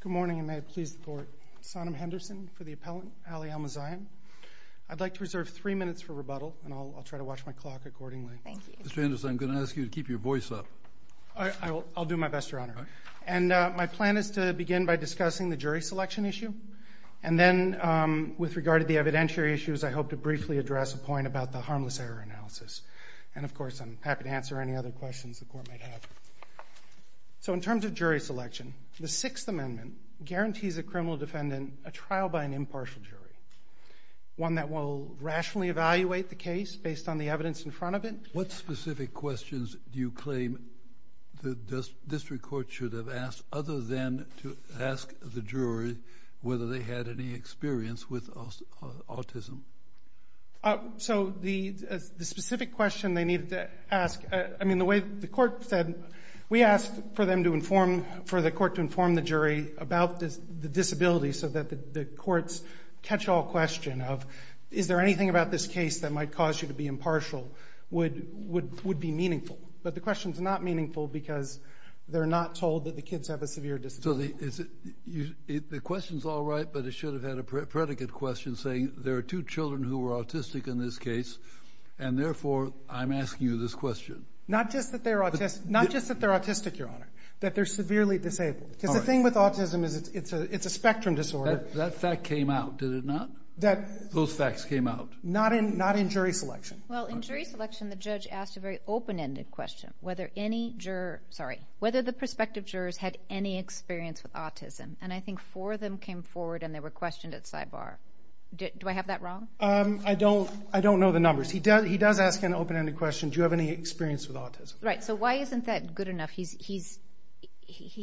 Good morning, and may it please the court. Sonam Henderson for the appellant, Ali Elmezayen. I'd like to reserve three minutes for rebuttal, and I'll try to watch my clock accordingly. Thank you. Mr. Henderson, I'm going to ask you to keep your voice up. I'll do my best, Your Honor. And my plan is to begin by discussing the jury selection issue. And then, with regard to the evidentiary issues, I hope to briefly address a point about the harmless error analysis. And, of course, I'm happy to answer any other questions the court may have. So, in terms of jury selection, the Sixth Amendment guarantees a criminal defendant a trial by an impartial jury, one that will rationally evaluate the case based on the evidence in front of it. What specific questions do you claim the district court should have asked, other than to ask the jury whether they had any experience with autism? So, the specific question they needed to ask, I mean, the way the court said, we asked for the court to inform the jury about the disability so that the courts catch all question of, is there anything about this case that might cause you to be impartial, would be meaningful. But the question's not meaningful because they're not told that the kids have a severe disability. So, the question's all right, but it should have had a predicate question saying, there are two children who are autistic in this case, and therefore, I'm asking you this question. Not just that they're autistic, Your Honor, that they're severely disabled. Because the thing with autism is it's a spectrum disorder. That fact came out, did it not? Those facts came out. Not in jury selection. Well, in jury selection, the judge asked a very open-ended question, whether any jurors, sorry, whether the prospective jurors had any experience with autism. And I think four of them came forward, and they were questioned at sidebar. Do I have that wrong? I don't know the numbers. He does ask an open-ended question, do you have any experience with autism? Right, so why isn't that good enough? He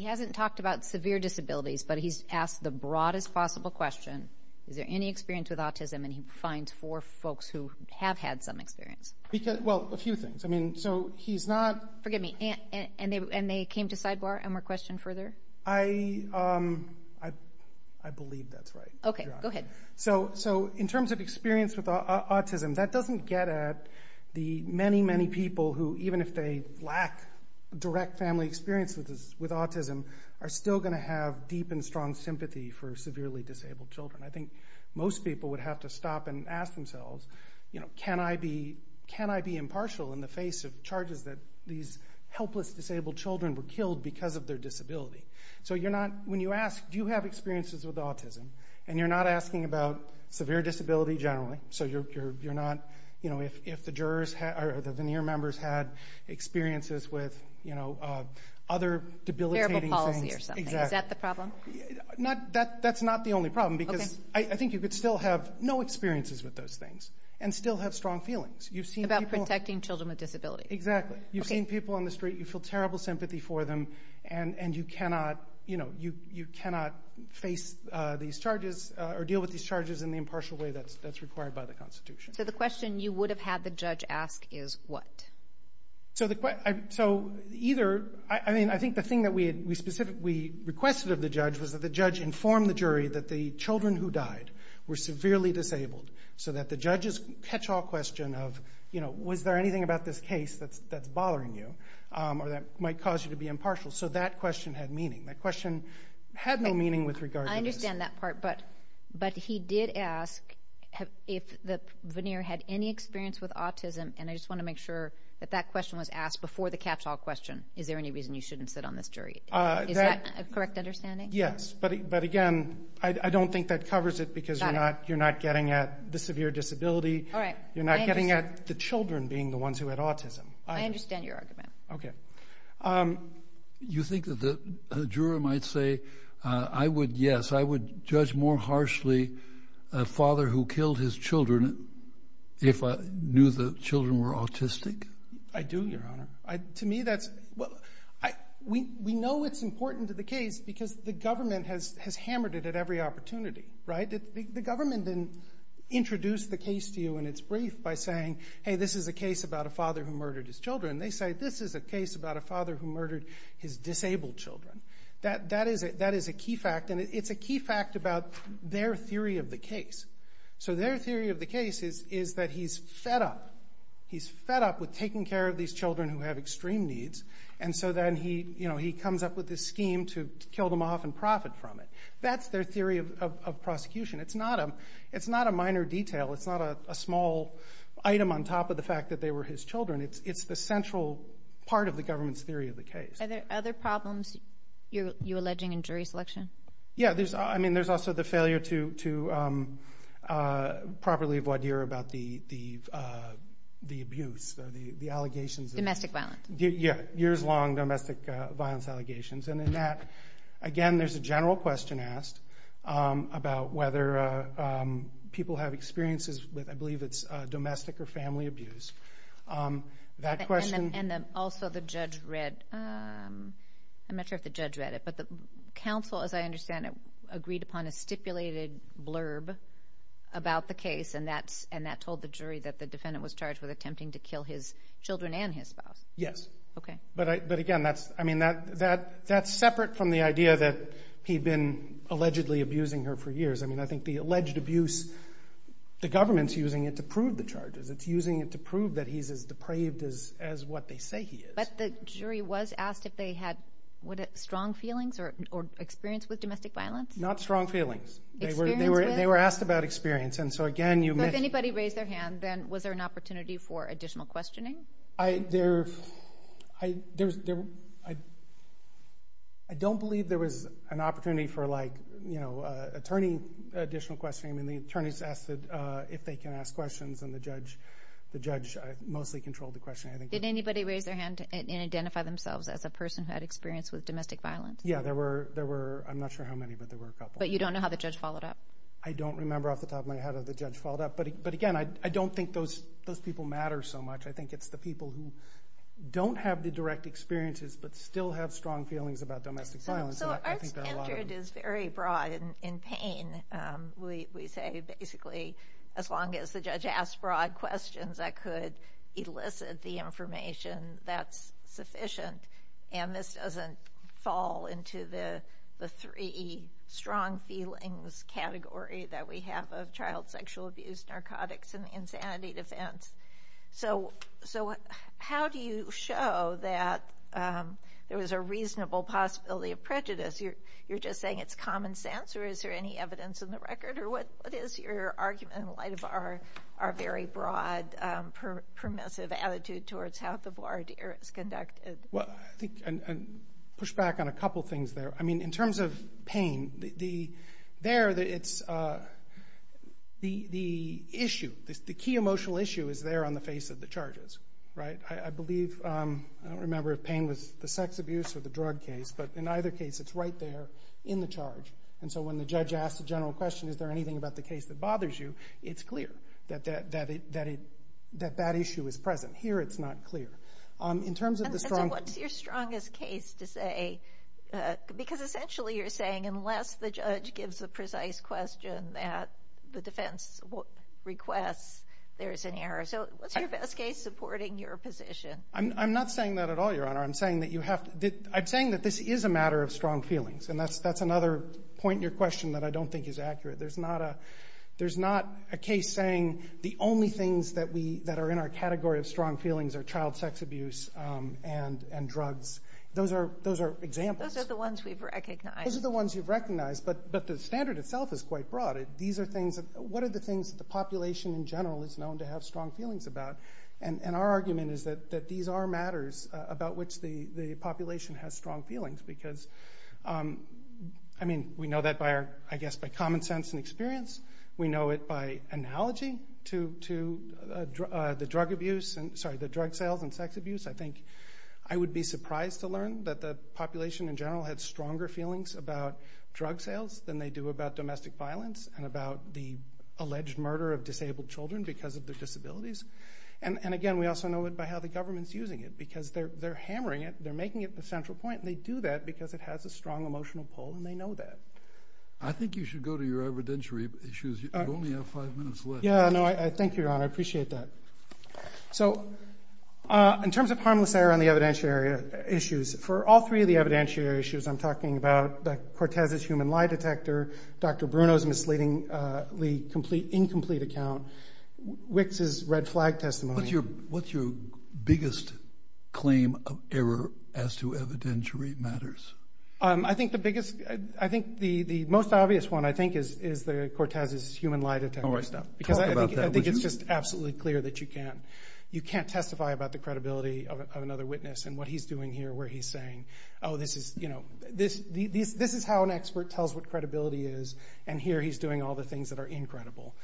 hasn't talked about severe disabilities, but he's asked the broadest possible question, is there any experience with autism, and he finds four folks who have had some experience. Well, a few things. Forgive me, and they came to sidebar, and were questioned further? I believe that's right, Your Honor. Okay, go ahead. So in terms of experience with autism, that doesn't get at the many, many people who, even if they lack direct family experience with autism, are still going to have deep and strong sympathy for severely disabled children. I think most people would have to stop and ask themselves, can I be impartial in the face of charges that these helpless disabled children were killed because of their disability? So when you ask, do you have experiences with autism, and you're not asking about severe disability generally, so you're not, if the jurors or the veneer members had experiences with other debilitating things. Terrible policy or something. Exactly. Is that the problem? That's not the only problem, because I think you could still have no experiences with those things and still have strong feelings. About protecting children with disabilities. Exactly. You've seen people on the street, you feel terrible sympathy for them, and you cannot face these charges or deal with these charges in the impartial way that's required by the Constitution. So the question you would have had the judge ask is what? So either, I mean, I think the thing that we requested of the judge was that the judge inform the jury that the children who died were severely disabled, so that the judge's catch-all question of, you know, was there anything about this case that's bothering you or that might cause you to be impartial, so that question had meaning. That question had no meaning with regard to this. I understand that part, but he did ask if the veneer had any experience with autism, and I just want to make sure that that question was asked before the catch-all question. Is there any reason you shouldn't sit on this jury? Is that a correct understanding? Yes, but again, I don't think that covers it because you're not getting at the severe disability. You're not getting at the children being the ones who had autism. I understand your argument. Okay. You think that the juror might say, yes, I would judge more harshly a father who killed his children if I knew the children were autistic? I do, Your Honor. To me, that's... We know it's important to the case because the government has hammered it at every opportunity, right? The government didn't introduce the case to you in its brief by saying, hey, this is a case about a father who murdered his children. They say, this is a case about a father who murdered his disabled children. That is a key fact, and it's a key fact about their theory of the case. So their theory of the case is that he's fed up. He's fed up with taking care of these children who have extreme needs, and so then he comes up with this scheme to kill them off and profit from it. That's their theory of prosecution. It's not a minor detail. It's not a small item on top of the fact that they were his children. It's the central part of the government's theory of the case. Are there other problems you're alleging in jury selection? Yeah. I mean, there's also the failure to properly voir dire about the abuse, the allegations. Domestic violence. Yeah, years-long domestic violence allegations. And in that, again, there's a general question asked about whether people have experiences with, I believe it's domestic or family abuse. That question. And also the judge read, I'm not sure if the judge read it, but the counsel, as I understand it, agreed upon a stipulated blurb about the case, and that told the jury that the defendant was charged with attempting to kill his children and his spouse. Yes. Okay. But, again, that's separate from the idea that he'd been allegedly abusing her for years. I mean, I think the alleged abuse, the government's using it to prove the charges. It's using it to prove that he's as depraved as what they say he is. But the jury was asked if they had strong feelings or experience with domestic violence? Not strong feelings. Experience with? They were asked about experience, and so, again, you may— So if anybody raised their hand, then was there an opportunity for additional questioning? I don't believe there was an opportunity for, like, attorney additional questioning. I mean, the attorneys asked if they can ask questions, and the judge mostly controlled the questioning. Did anybody raise their hand and identify themselves as a person who had experience with domestic violence? Yeah, there were—I'm not sure how many, but there were a couple. But you don't know how the judge followed up? I don't remember off the top of my head how the judge followed up. But, again, I don't think those people matter so much. I think it's the people who don't have the direct experiences but still have strong feelings about domestic violence. So our standard is very broad. In pain, we say, basically, as long as the judge asks broad questions that could elicit the information, that's sufficient. And this doesn't fall into the three strong feelings category that we have of child sexual abuse, narcotics, and insanity defense. So how do you show that there was a reasonable possibility of prejudice? You're just saying it's common sense, or is there any evidence in the record? Or what is your argument in light of our very broad, permissive attitude towards how the voir dire is conducted? Well, I think—and push back on a couple things there. I mean, in terms of pain, there it's—the issue, the key emotional issue is there on the face of the charges, right? I believe—I don't remember if pain was the sex abuse or the drug case, but in either case, it's right there in the charge. And so when the judge asks a general question, is there anything about the case that bothers you, it's clear that that issue is present. Here it's not clear. And so what's your strongest case to say? Because essentially you're saying unless the judge gives a precise question that the defense requests, there's an error. So what's your best case supporting your position? I'm not saying that at all, Your Honor. I'm saying that this is a matter of strong feelings, and that's another point in your question that I don't think is accurate. There's not a case saying the only things that are in our category of strong feelings are child sex abuse and drugs. Those are examples. Those are the ones we've recognized. Those are the ones you've recognized, but the standard itself is quite broad. These are things that—what are the things that the population in general is known to have strong feelings about? And our argument is that these are matters about which the population has strong feelings, because we know that, I guess, by common sense and experience. We know it by analogy to the drug sales and sex abuse. I think I would be surprised to learn that the population in general had stronger feelings about drug sales than they do about domestic violence and about the alleged murder of disabled children because of their disabilities. And again, we also know it by how the government's using it, because they're hammering it. They're making it the central point. And they do that because it has a strong emotional pull, and they know that. I think you should go to your evidentiary issues. You only have five minutes left. Yeah, no, thank you, Your Honor. I appreciate that. So in terms of harmless error on the evidentiary issues, for all three of the evidentiary issues I'm talking about, like Cortez's human lie detector, Dr. Bruno's misleadingly incomplete account, Wicks' red flag testimony— what's your biggest claim of error as to evidentiary matters? I think the biggest—I think the most obvious one, I think, is Cortez's human lie detector. All right, stop. Talk about that, would you? Because I think it's just absolutely clear that you can't testify about the credibility of another witness and what he's doing here where he's saying, oh, this is how an expert tells what credibility is, and here he's doing all the things that are incredible.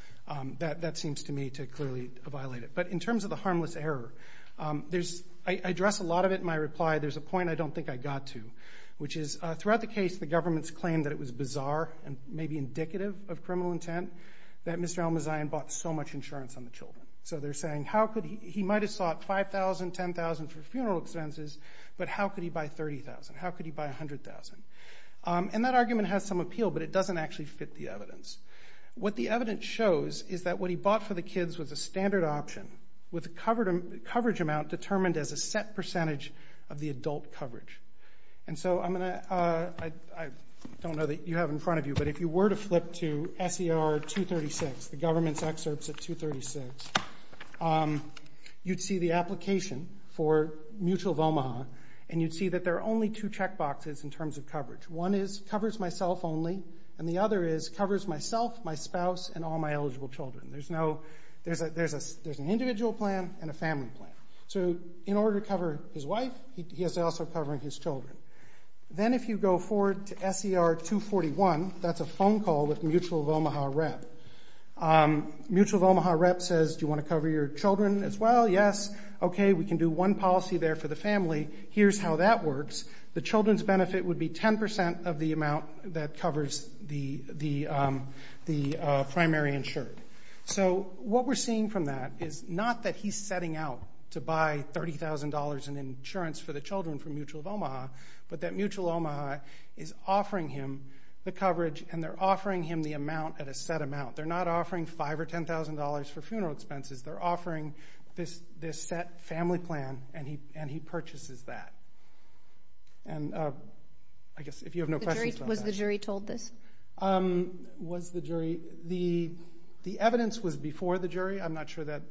That seems to me to clearly violate it. But in terms of the harmless error, I address a lot of it in my reply. There's a point I don't think I got to, which is throughout the case, the government's claim that it was bizarre and maybe indicative of criminal intent that Mr. Almazayan bought so much insurance on the children. So they're saying he might have sought $5,000, $10,000 for funeral expenses, but how could he buy $30,000? How could he buy $100,000? And that argument has some appeal, but it doesn't actually fit the evidence. What the evidence shows is that what he bought for the kids was a standard option with a coverage amount determined as a set percentage of the adult coverage. And so I don't know that you have it in front of you, but if you were to flip to SER 236, the government's excerpts of 236, you'd see the application for mutual of Omaha, and you'd see that there are only two checkboxes in terms of coverage. One is covers myself only, and the other is covers myself, my spouse, and all my eligible children. There's an individual plan and a family plan. So in order to cover his wife, he has to also cover his children. Then if you go forward to SER 241, that's a phone call with mutual of Omaha rep. Mutual of Omaha rep says, Do you want to cover your children as well? Yes. Okay, we can do one policy there for the family. Here's how that works. The children's benefit would be 10% of the amount that covers the primary insured. So what we're seeing from that is not that he's setting out to buy $30,000 in insurance for the children from mutual of Omaha, but that mutual of Omaha is offering him the coverage, and they're offering him the amount at a set amount. They're not offering $5,000 or $10,000 for funeral expenses. They're offering this set family plan, and he purchases that. I guess if you have no questions about that. Was the jury told this? The evidence was before the jury. I'm not sure that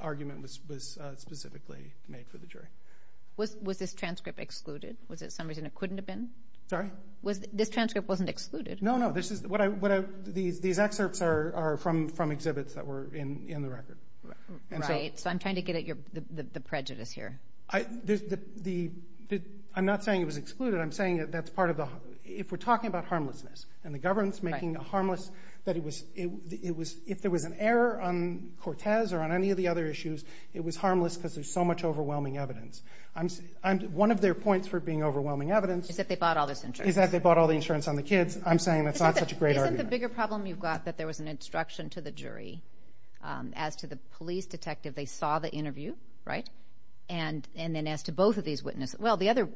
argument was specifically made for the jury. Was this transcript excluded? Was it some reason it couldn't have been? Sorry? This transcript wasn't excluded? No, no. These excerpts are from exhibits that were in the record. Right, so I'm trying to get at the prejudice here. I'm not saying it was excluded. I'm saying that's part of the—if we're talking about harmlessness and the government's making it harmless, if there was an error on Cortez or on any of the other issues, it was harmless because there's so much overwhelming evidence. One of their points for being overwhelming evidence— Is that they bought all this insurance. Is that they bought all the insurance on the kids. I'm saying that's not such a great argument. Isn't the bigger problem you've got that there was an instruction to the jury as to the police detective they saw the interview, right, and then as to both of these witnesses? Well, the other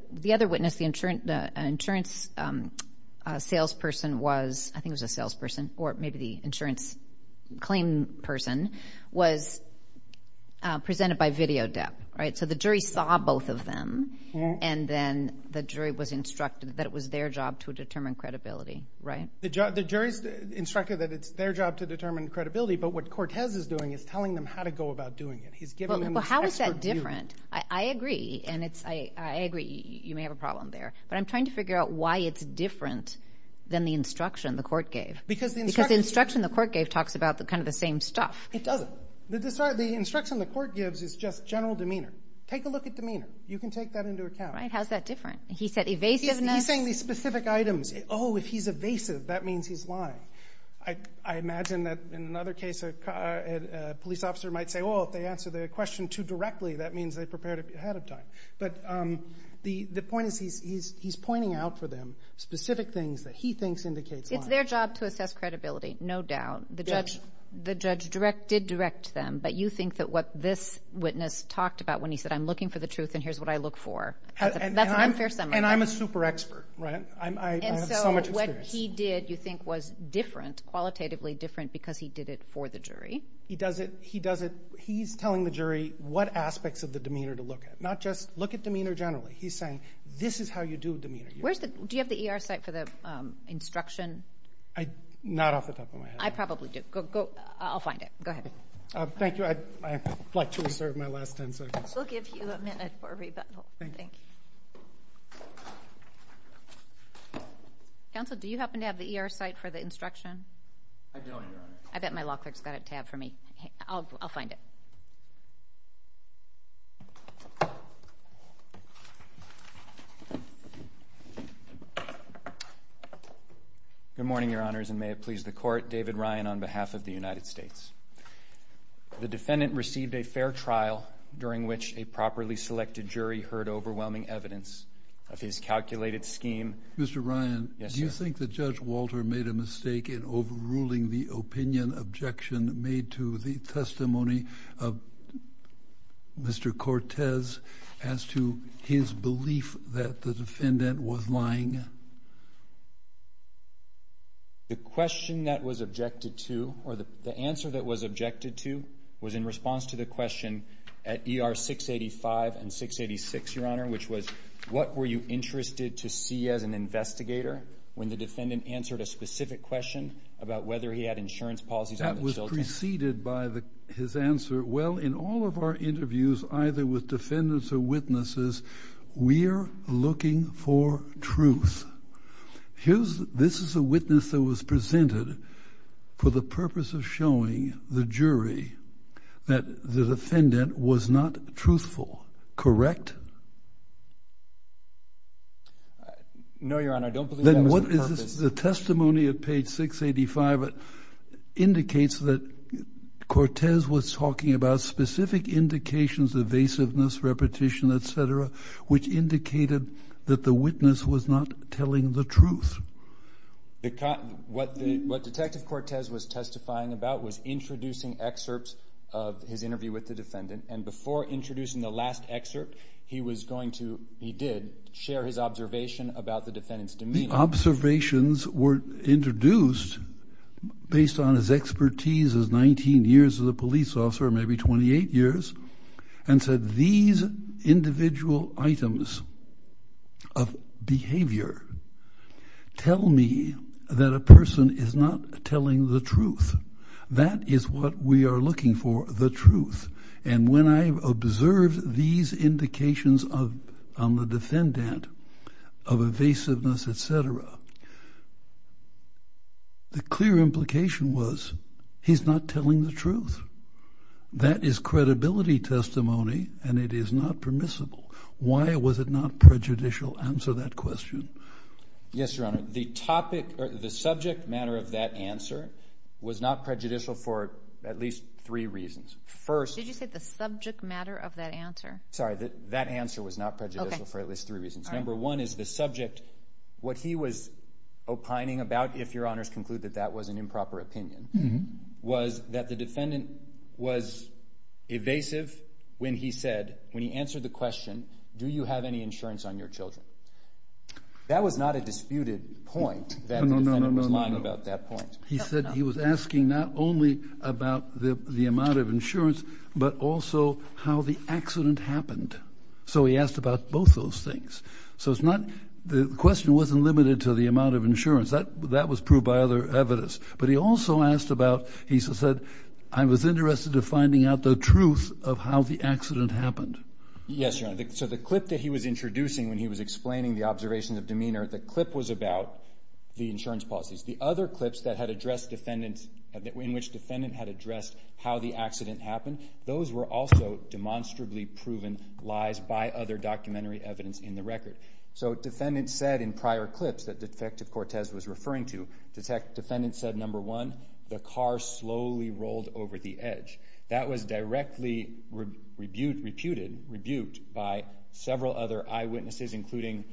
witness, the insurance salesperson was— I think it was a salesperson or maybe the insurance claim person— was presented by video debt, right? So the jury saw both of them, and then the jury was instructed that it was their job to determine credibility, right? The jury's instructed that it's their job to determine credibility, but what Cortez is doing is telling them how to go about doing it. He's giving them this expert view. Well, how is that different? I agree, and I agree you may have a problem there, but I'm trying to figure out why it's different than the instruction the court gave. Because the instruction the court gave talks about kind of the same stuff. It doesn't. The instruction the court gives is just general demeanor. Take a look at demeanor. You can take that into account. Right, how is that different? He said evasiveness. He's saying these specific items. Oh, if he's evasive, that means he's lying. I imagine that in another case a police officer might say, oh, if they answer the question too directly, that means they prepared ahead of time. But the point is he's pointing out for them specific things that he thinks indicates lying. It's their job to assess credibility, no doubt. The judge did direct them, but you think that what this witness talked about when he said, I'm looking for the truth and here's what I look for, that's an unfair summary. And I'm a super expert. I have so much experience. And so what he did you think was different, qualitatively different, because he did it for the jury? He does it. He's telling the jury what aspects of the demeanor to look at, not just look at demeanor generally. He's saying this is how you do demeanor. Do you have the ER site for the instruction? Not off the top of my head. I probably do. I'll find it. Go ahead. Thank you. I'd like to reserve my last ten seconds. We'll give you a minute for rebuttal. Thank you. Counsel, do you happen to have the ER site for the instruction? I don't. I bet my law clerk's got it tabbed for me. I'll find it. Good morning, Your Honors, and may it please the Court, David Ryan on behalf of the United States. The defendant received a fair trial during which a properly selected jury heard overwhelming evidence of his calculated scheme. Mr. Ryan. Yes, sir. Do you think that Judge Walter made a mistake in overruling the opinion objection made to the testimony of Mr. Cortez as to his belief that the defendant was lying? The question that was objected to, or the answer that was objected to, was in response to the question at ER 685 and 686, Your Honor, which was, what were you interested to see as an investigator when the defendant answered a specific question about whether he had insurance policies on his children? That was preceded by his answer, well, in all of our interviews, either with defendants or witnesses, we are looking for truth. This is a witness that was presented for the purpose of showing the jury that the defendant was not truthful, correct? No, Your Honor, I don't believe that was the purpose. The testimony at page 685 indicates that Cortez was talking about specific indications of evasiveness, repetition, et cetera, which indicated that the witness was not telling the truth. What Detective Cortez was testifying about was introducing excerpts of his interview with the defendant, and before introducing the last excerpt, he was going to, he did, share his observation about the defendant's demeanor. The observations were introduced based on his expertise as 19 years as a witness, and said these individual items of behavior tell me that a person is not telling the truth. That is what we are looking for, the truth. And when I observed these indications on the defendant of evasiveness, et cetera, the clear implication was he's not telling the truth. That is credibility testimony, and it is not permissible. Why was it not prejudicial? Answer that question. Yes, Your Honor. The subject matter of that answer was not prejudicial for at least three reasons. Did you say the subject matter of that answer? Sorry, that answer was not prejudicial for at least three reasons. Number one is the subject, what he was opining about, if Your Honors conclude that that was an improper opinion, was that the defendant was evasive when he said, when he answered the question, do you have any insurance on your children? That was not a disputed point that the defendant was lying about that point. He said he was asking not only about the amount of insurance, but also how the accident happened. So he asked about both those things. So it's not, the question wasn't limited to the amount of insurance. That was proved by other evidence. But he also asked about, he said, I was interested in finding out the truth of how the accident happened. Yes, Your Honor. So the clip that he was introducing when he was explaining the observation of demeanor, the clip was about the insurance policies. The other clips that had addressed defendants, in which the defendant had addressed how the accident happened, those were also demonstrably proven lies by other documentary evidence in the record. So defendants said in prior clips that Detective Cortez was referring to, defendants said, number one, the car slowly rolled over the edge. That was directly reputed, rebuked by several other eyewitnesses, including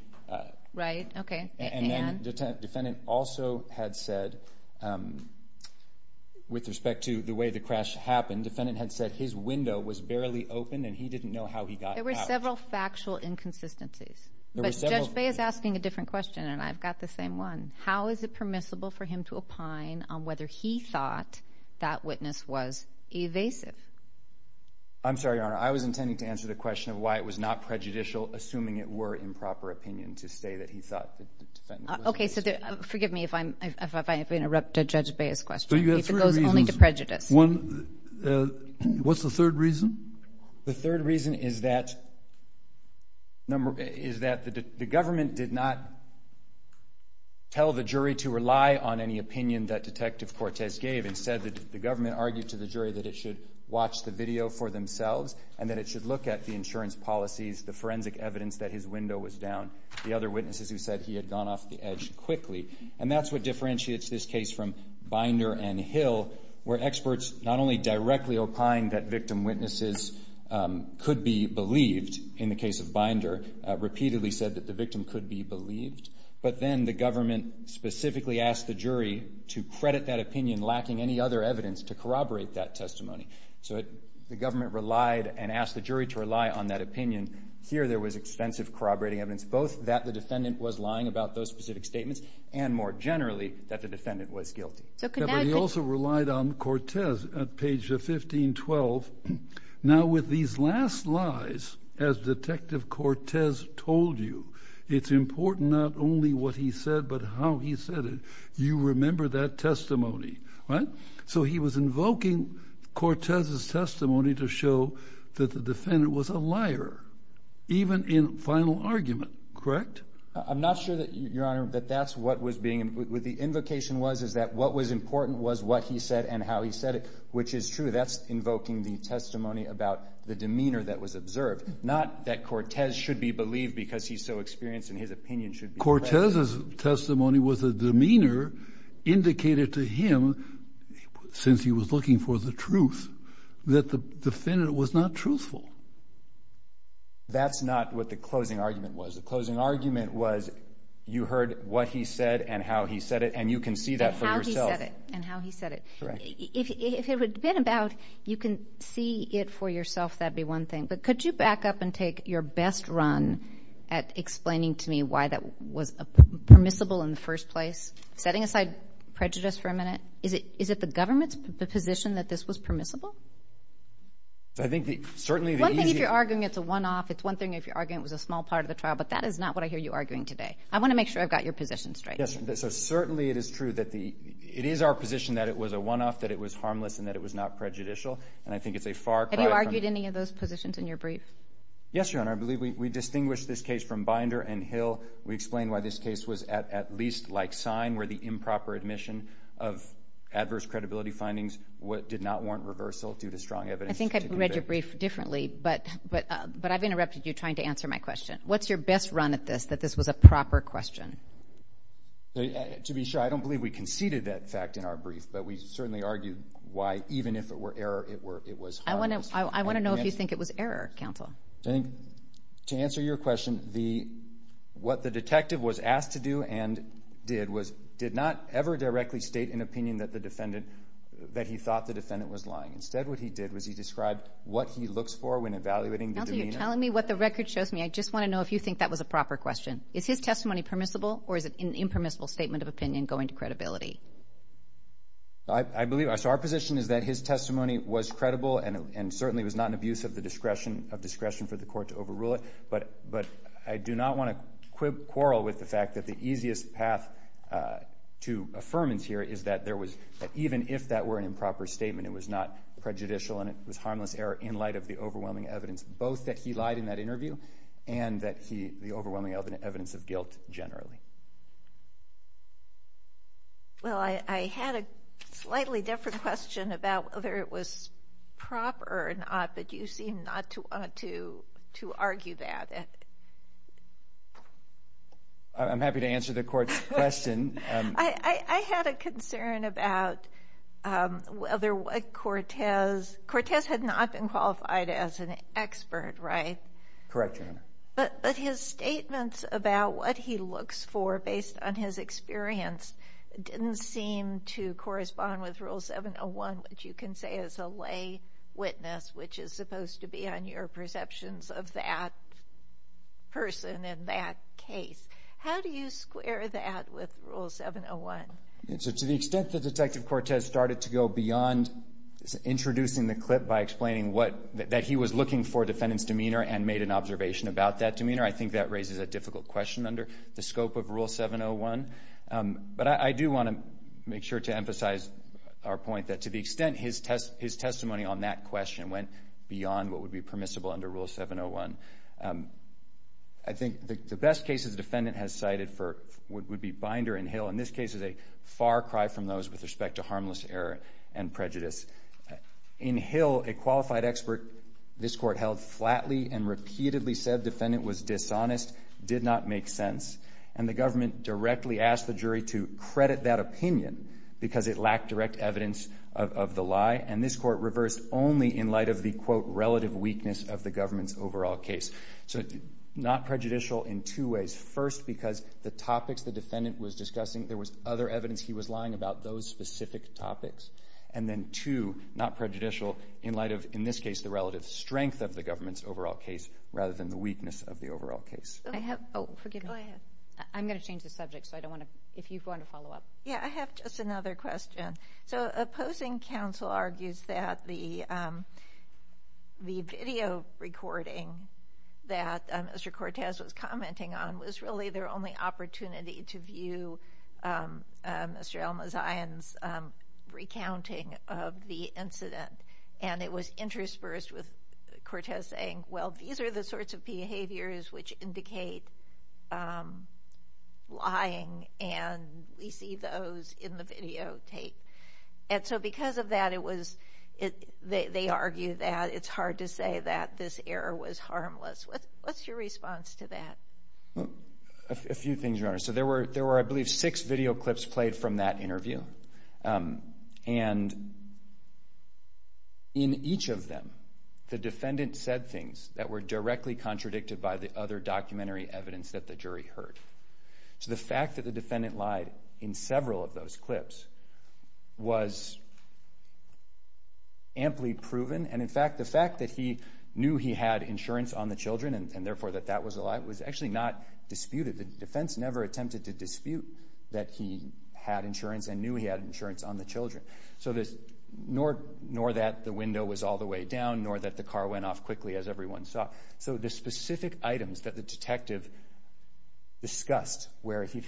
Right, okay. And then the defendant also had said, with respect to the way the crash happened, defendant had said his window was barely open and he didn't know how he got out. There were several factual inconsistencies. But Judge Bay is asking a different question, and I've got the same one. How is it permissible for him to opine on whether he thought that witness was evasive? I'm sorry, Your Honor. I was intending to answer the question of why it was not prejudicial, assuming it were improper opinion to say that he thought the defendant was evasive. Okay, so forgive me if I interrupt Judge Bay's question. If it goes only to prejudice. What's the third reason? The third reason is that the government did not tell the jury to rely on any opinion that Detective Cortez gave. Instead, the government argued to the jury that it should watch the video for themselves and that it should look at the insurance policies, the forensic evidence that his window was down, the other witnesses who said he had gone off the edge quickly. And that's what differentiates this case from Binder and Hill, where experts not only directly opined that victim witnesses could be believed in the case of Binder, repeatedly said that the victim could be believed, but then the government specifically asked the jury to credit that opinion, lacking any other evidence, to corroborate that testimony. So the government relied and asked the jury to rely on that opinion. Here there was extensive corroborating evidence, both that the defendant was lying about those specific statements and, more generally, that the defendant was guilty. But he also relied on Cortez at page 1512. Now with these last lies, as Detective Cortez told you, it's important not only what he said, but how he said it. You remember that testimony, right? So he was invoking Cortez's testimony to show that the defendant was a liar, even in final argument, correct? I'm not sure, Your Honor, that that's what was being— what the invocation was is that what was important was what he said and how he said it, which is true. That's invoking the testimony about the demeanor that was observed, not that Cortez should be believed because he's so experienced and his opinion should be— Cortez's testimony was a demeanor indicated to him, since he was looking for the truth, that the defendant was not truthful. That's not what the closing argument was. The closing argument was you heard what he said and how he said it, and you can see that for yourself. And how he said it. Correct. If it had been about you can see it for yourself, that would be one thing. But could you back up and take your best run at explaining to me why that was permissible in the first place, setting aside prejudice for a minute? Is it the government's position that this was permissible? I think certainly the easy— One thing if you're arguing it's a one-off, it's one thing if you're arguing it was a small part of the trial, but that is not what I hear you arguing today. I want to make sure I've got your position straight. Yes, so certainly it is true that it is our position that it was a one-off, that it was harmless, and that it was not prejudicial. And I think it's a far cry from— Have you argued any of those positions in your brief? Yes, Your Honor. I believe we distinguished this case from Binder and Hill. We explained why this case was at least like sign, where the improper admission of adverse credibility findings did not warrant reversal due to strong evidence. I think I read your brief differently, but I've interrupted you trying to answer my question. What's your best run at this, that this was a proper question? To be sure, I don't believe we conceded that fact in our brief, but we certainly argued why even if it were error, it was harmless. I want to know if you think it was error, counsel. To answer your question, what the detective was asked to do and did was did not ever directly state an opinion that he thought the defendant was lying. Instead, what he did was he described what he looks for when evaluating the demeanor. Counsel, you're telling me what the record shows me. I just want to know if you think that was a proper question. Is his testimony permissible, or is it an impermissible statement of opinion going to credibility? I believe our position is that his testimony was credible and certainly was not an abuse of discretion for the court to overrule it. But I do not want to quarrel with the fact that the easiest path to affirmance here is that even if that were an improper statement, it was not prejudicial and it was harmless error in light of the overwhelming evidence, both that he lied in that interview and the overwhelming evidence of guilt generally. I had a slightly different question about whether it was proper or not, but you seem not to want to argue that. I'm happy to answer the court's question. I had a concern about whether Cortez—Cortez had not been qualified as an expert, right? Correct, Your Honor. But his statements about what he looks for based on his experience didn't seem to correspond with Rule 701, which you can say is a lay witness, which is supposed to be on your perceptions of that person in that case. How do you square that with Rule 701? To the extent that Detective Cortez started to go beyond introducing the clip by explaining that he was looking for a defendant's demeanor and made an observation about that demeanor, I think that raises a difficult question under the scope of Rule 701. But I do want to make sure to emphasize our point that to the extent his testimony on that question went beyond what would be permissible under Rule 701, I think the best cases the defendant has cited would be Binder and Hill, and this case is a far cry from those with respect to harmless error and prejudice. In Hill, a qualified expert, this Court held flatly and repeatedly said defendant was dishonest, did not make sense, and the government directly asked the jury to credit that opinion because it lacked direct evidence of the lie, and this Court reversed only in light of the, quote, relative weakness of the government's overall case. So not prejudicial in two ways. First, because the topics the defendant was discussing, there was other evidence he was lying about those specific topics. And then, two, not prejudicial in light of, in this case, the relative strength of the government's overall case rather than the weakness of the overall case. Oh, forgive me. Go ahead. I'm going to change the subject, so I don't want to, if you want to follow up. Yeah, I have just another question. So opposing counsel argues that the video recording that Mr. Cortez was commenting on was really their only opportunity to view Mr. Almazayan's recounting of the incident, and it was interspersed with Cortez saying, well, these are the sorts of behaviors which indicate lying, and we see those in the videotape. And so because of that, they argue that it's hard to say that this error was harmless. What's your response to that? A few things, Your Honor. So there were, I believe, six video clips played from that interview, and in each of them the defendant said things that were directly contradicted by the other documentary evidence that the jury heard. So the fact that the defendant lied in several of those clips was amply proven, and in fact the fact that he knew he had insurance on the children and therefore that that was a lie was actually not disputed. The defense never attempted to dispute that he had insurance and knew he had insurance on the children, nor that the window was all the way down, nor that the car went off quickly as everyone saw. So the specific items that the detective discussed where the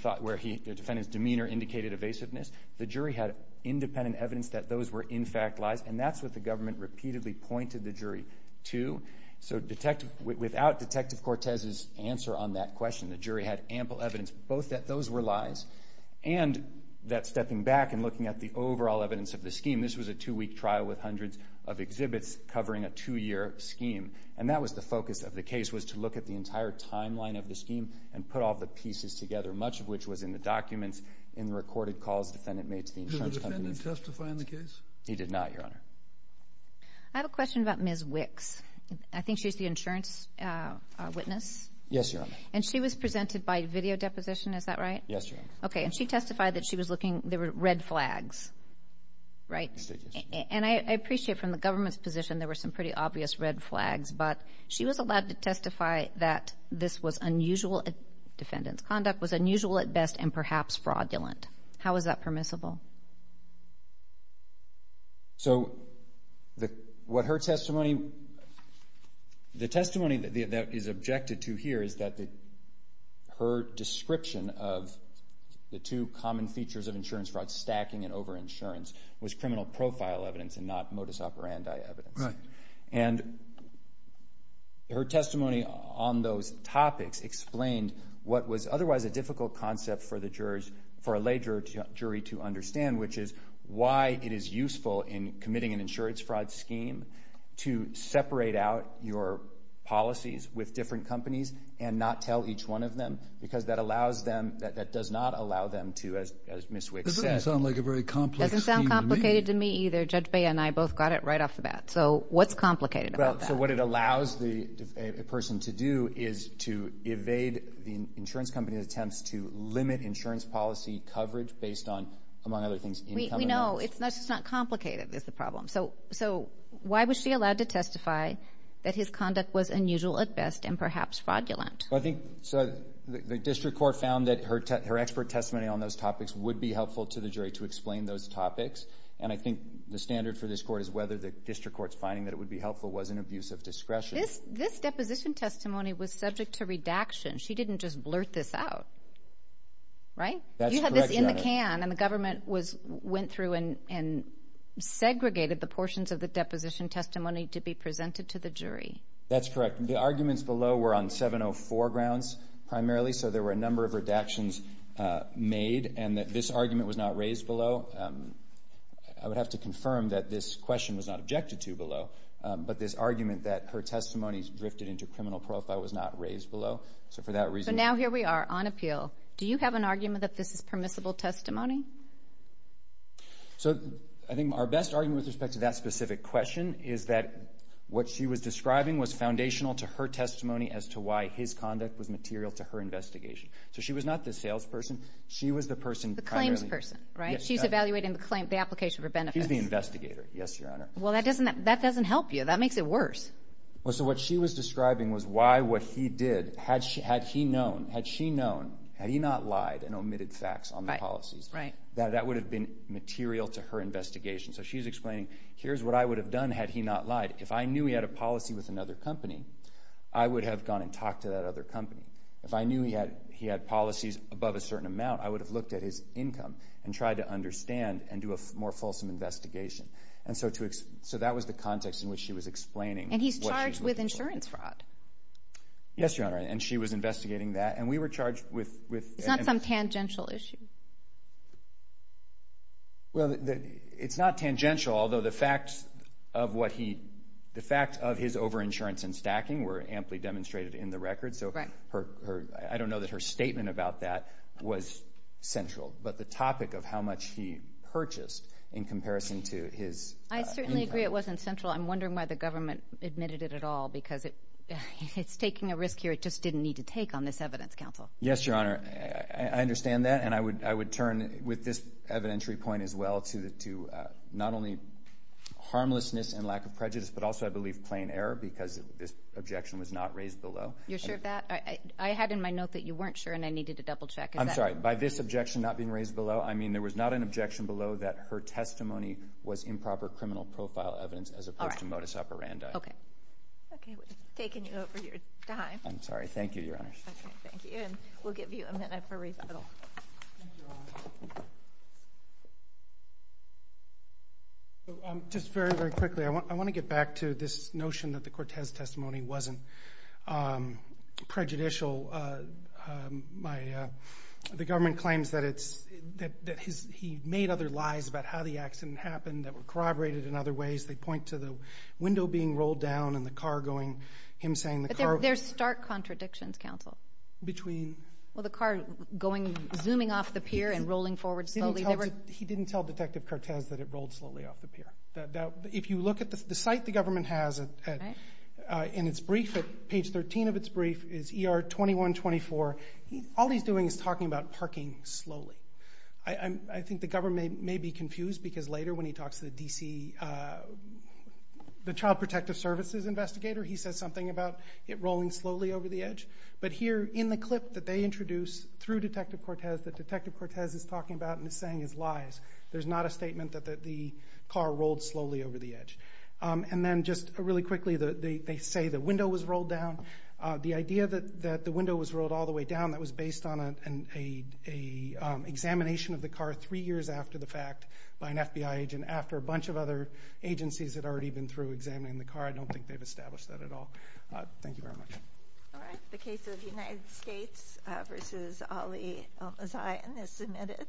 defendant's demeanor indicated evasiveness, the jury had independent evidence that those were in fact lies, and that's what the government repeatedly pointed the jury to. So without Detective Cortez's answer on that question, the jury had ample evidence both that those were lies and that stepping back and looking at the overall evidence of the scheme, this was a two-week trial with hundreds of exhibits covering a two-year scheme, and that was the focus of the case was to look at the entire timeline of the scheme and put all the pieces together, much of which was in the documents, in the recorded calls the defendant made to the insurance company. Did the defendant testify in the case? He did not, Your Honor. I have a question about Ms. Wicks. I think she's the insurance witness. Yes, Your Honor. And she was presented by video deposition, is that right? Yes, Your Honor. Okay, and she testified that she was looking, there were red flags, right? And I appreciate from the government's position there were some pretty obvious red flags, but she was allowed to testify that this was unusual, defendant's conduct was unusual at best and perhaps fraudulent. How is that permissible? So what her testimony, the testimony that is objected to here is that her description of the two common features of insurance fraud, stacking and over-insurance, was criminal profile evidence and not modus operandi evidence. And her testimony on those topics explained what was otherwise a difficult concept for the jurors, for a lay jury to understand, which is why it is useful in committing an insurance fraud scheme to separate out your policies with different companies and not tell each one of them because that allows them, that does not allow them to, as Ms. Wicks said. That doesn't sound like a very complex scheme to me. It doesn't sound complicated to me either. Judge Bea and I both got it right off the bat. So what's complicated about that? So what it allows a person to do is to evade the insurance company's attempts to limit insurance policy coverage based on, among other things, income and earnings. We know. It's just not complicated is the problem. So why was she allowed to testify that his conduct was unusual at best and perhaps fraudulent? I think the district court found that her expert testimony on those topics would be helpful to the jury to explain those topics, and I think the standard for this court is whether the district court's finding that it would be helpful was an abuse of discretion. This deposition testimony was subject to redaction. She didn't just blurt this out, right? That's correct, Your Honor. You had this in the can, and the government went through and segregated the portions of the deposition testimony to be presented to the jury. That's correct. The arguments below were on 704 grounds primarily, so there were a number of redactions made and that this argument was not raised below. I would have to confirm that this question was not objected to below, but this argument that her testimony drifted into criminal profile was not raised below. So for that reason— So now here we are on appeal. Do you have an argument that this is permissible testimony? So I think our best argument with respect to that specific question is that what she was describing was foundational to her testimony as to why his conduct was material to her investigation. So she was not the salesperson. She was the person primarily— The claims person, right? She's evaluating the application for benefits. He's the investigator, yes, Your Honor. Well, that doesn't help you. That makes it worse. Well, so what she was describing was why what he did, had she known, had he not lied and omitted facts on the policies, that that would have been material to her investigation. So she's explaining, here's what I would have done had he not lied. If I knew he had a policy with another company, I would have gone and talked to that other company. If I knew he had policies above a certain amount, I would have looked at his income and tried to understand and do a more fulsome investigation. So that was the context in which she was explaining what she was looking for. And he's charged with insurance fraud. Yes, Your Honor, and she was investigating that. And we were charged with— It's not some tangential issue. Well, it's not tangential, although the facts of what he— the facts of his over-insurance and stacking were amply demonstrated in the record. So I don't know that her statement about that was central. But the topic of how much he purchased in comparison to his— I certainly agree it wasn't central. I'm wondering why the government admitted it at all, because it's taking a risk here it just didn't need to take on this evidence, Counsel. Yes, Your Honor, I understand that. And I would turn, with this evidentiary point as well, to not only harmlessness and lack of prejudice, but also, I believe, plain error because this objection was not raised below. You're sure of that? I had in my note that you weren't sure and I needed to double-check. I'm sorry. By this objection not being raised below, I mean there was not an objection below that her testimony was improper criminal profile evidence as opposed to modus operandi. Okay. Okay, we're taking you over your time. I'm sorry. Thank you, Your Honor. Okay, thank you. And we'll give you a minute for recital. Thank you, Your Honor. Just very, very quickly, I want to get back to this notion that the Cortez testimony wasn't prejudicial. The government claims that he made other lies about how the accident happened that were corroborated in other ways. They point to the window being rolled down and the car going. But there are stark contradictions, counsel. Between? Well, the car zooming off the pier and rolling forward slowly. He didn't tell Detective Cortez that it rolled slowly off the pier. If you look at the site the government has in its brief, at page 13 of its brief is ER-2124. All he's doing is talking about parking slowly. The Child Protective Services investigator, he says something about it rolling slowly over the edge. But here in the clip that they introduce through Detective Cortez, that Detective Cortez is talking about and is saying is lies. There's not a statement that the car rolled slowly over the edge. And then just really quickly, they say the window was rolled down. The idea that the window was rolled all the way down, that was based on an examination of the car three years after the fact by an FBI agent, and after a bunch of other agencies had already been through examining the car. I don't think they've established that at all. Thank you very much. All right. The case of United States v. Ali Al-Mazayan is submitted.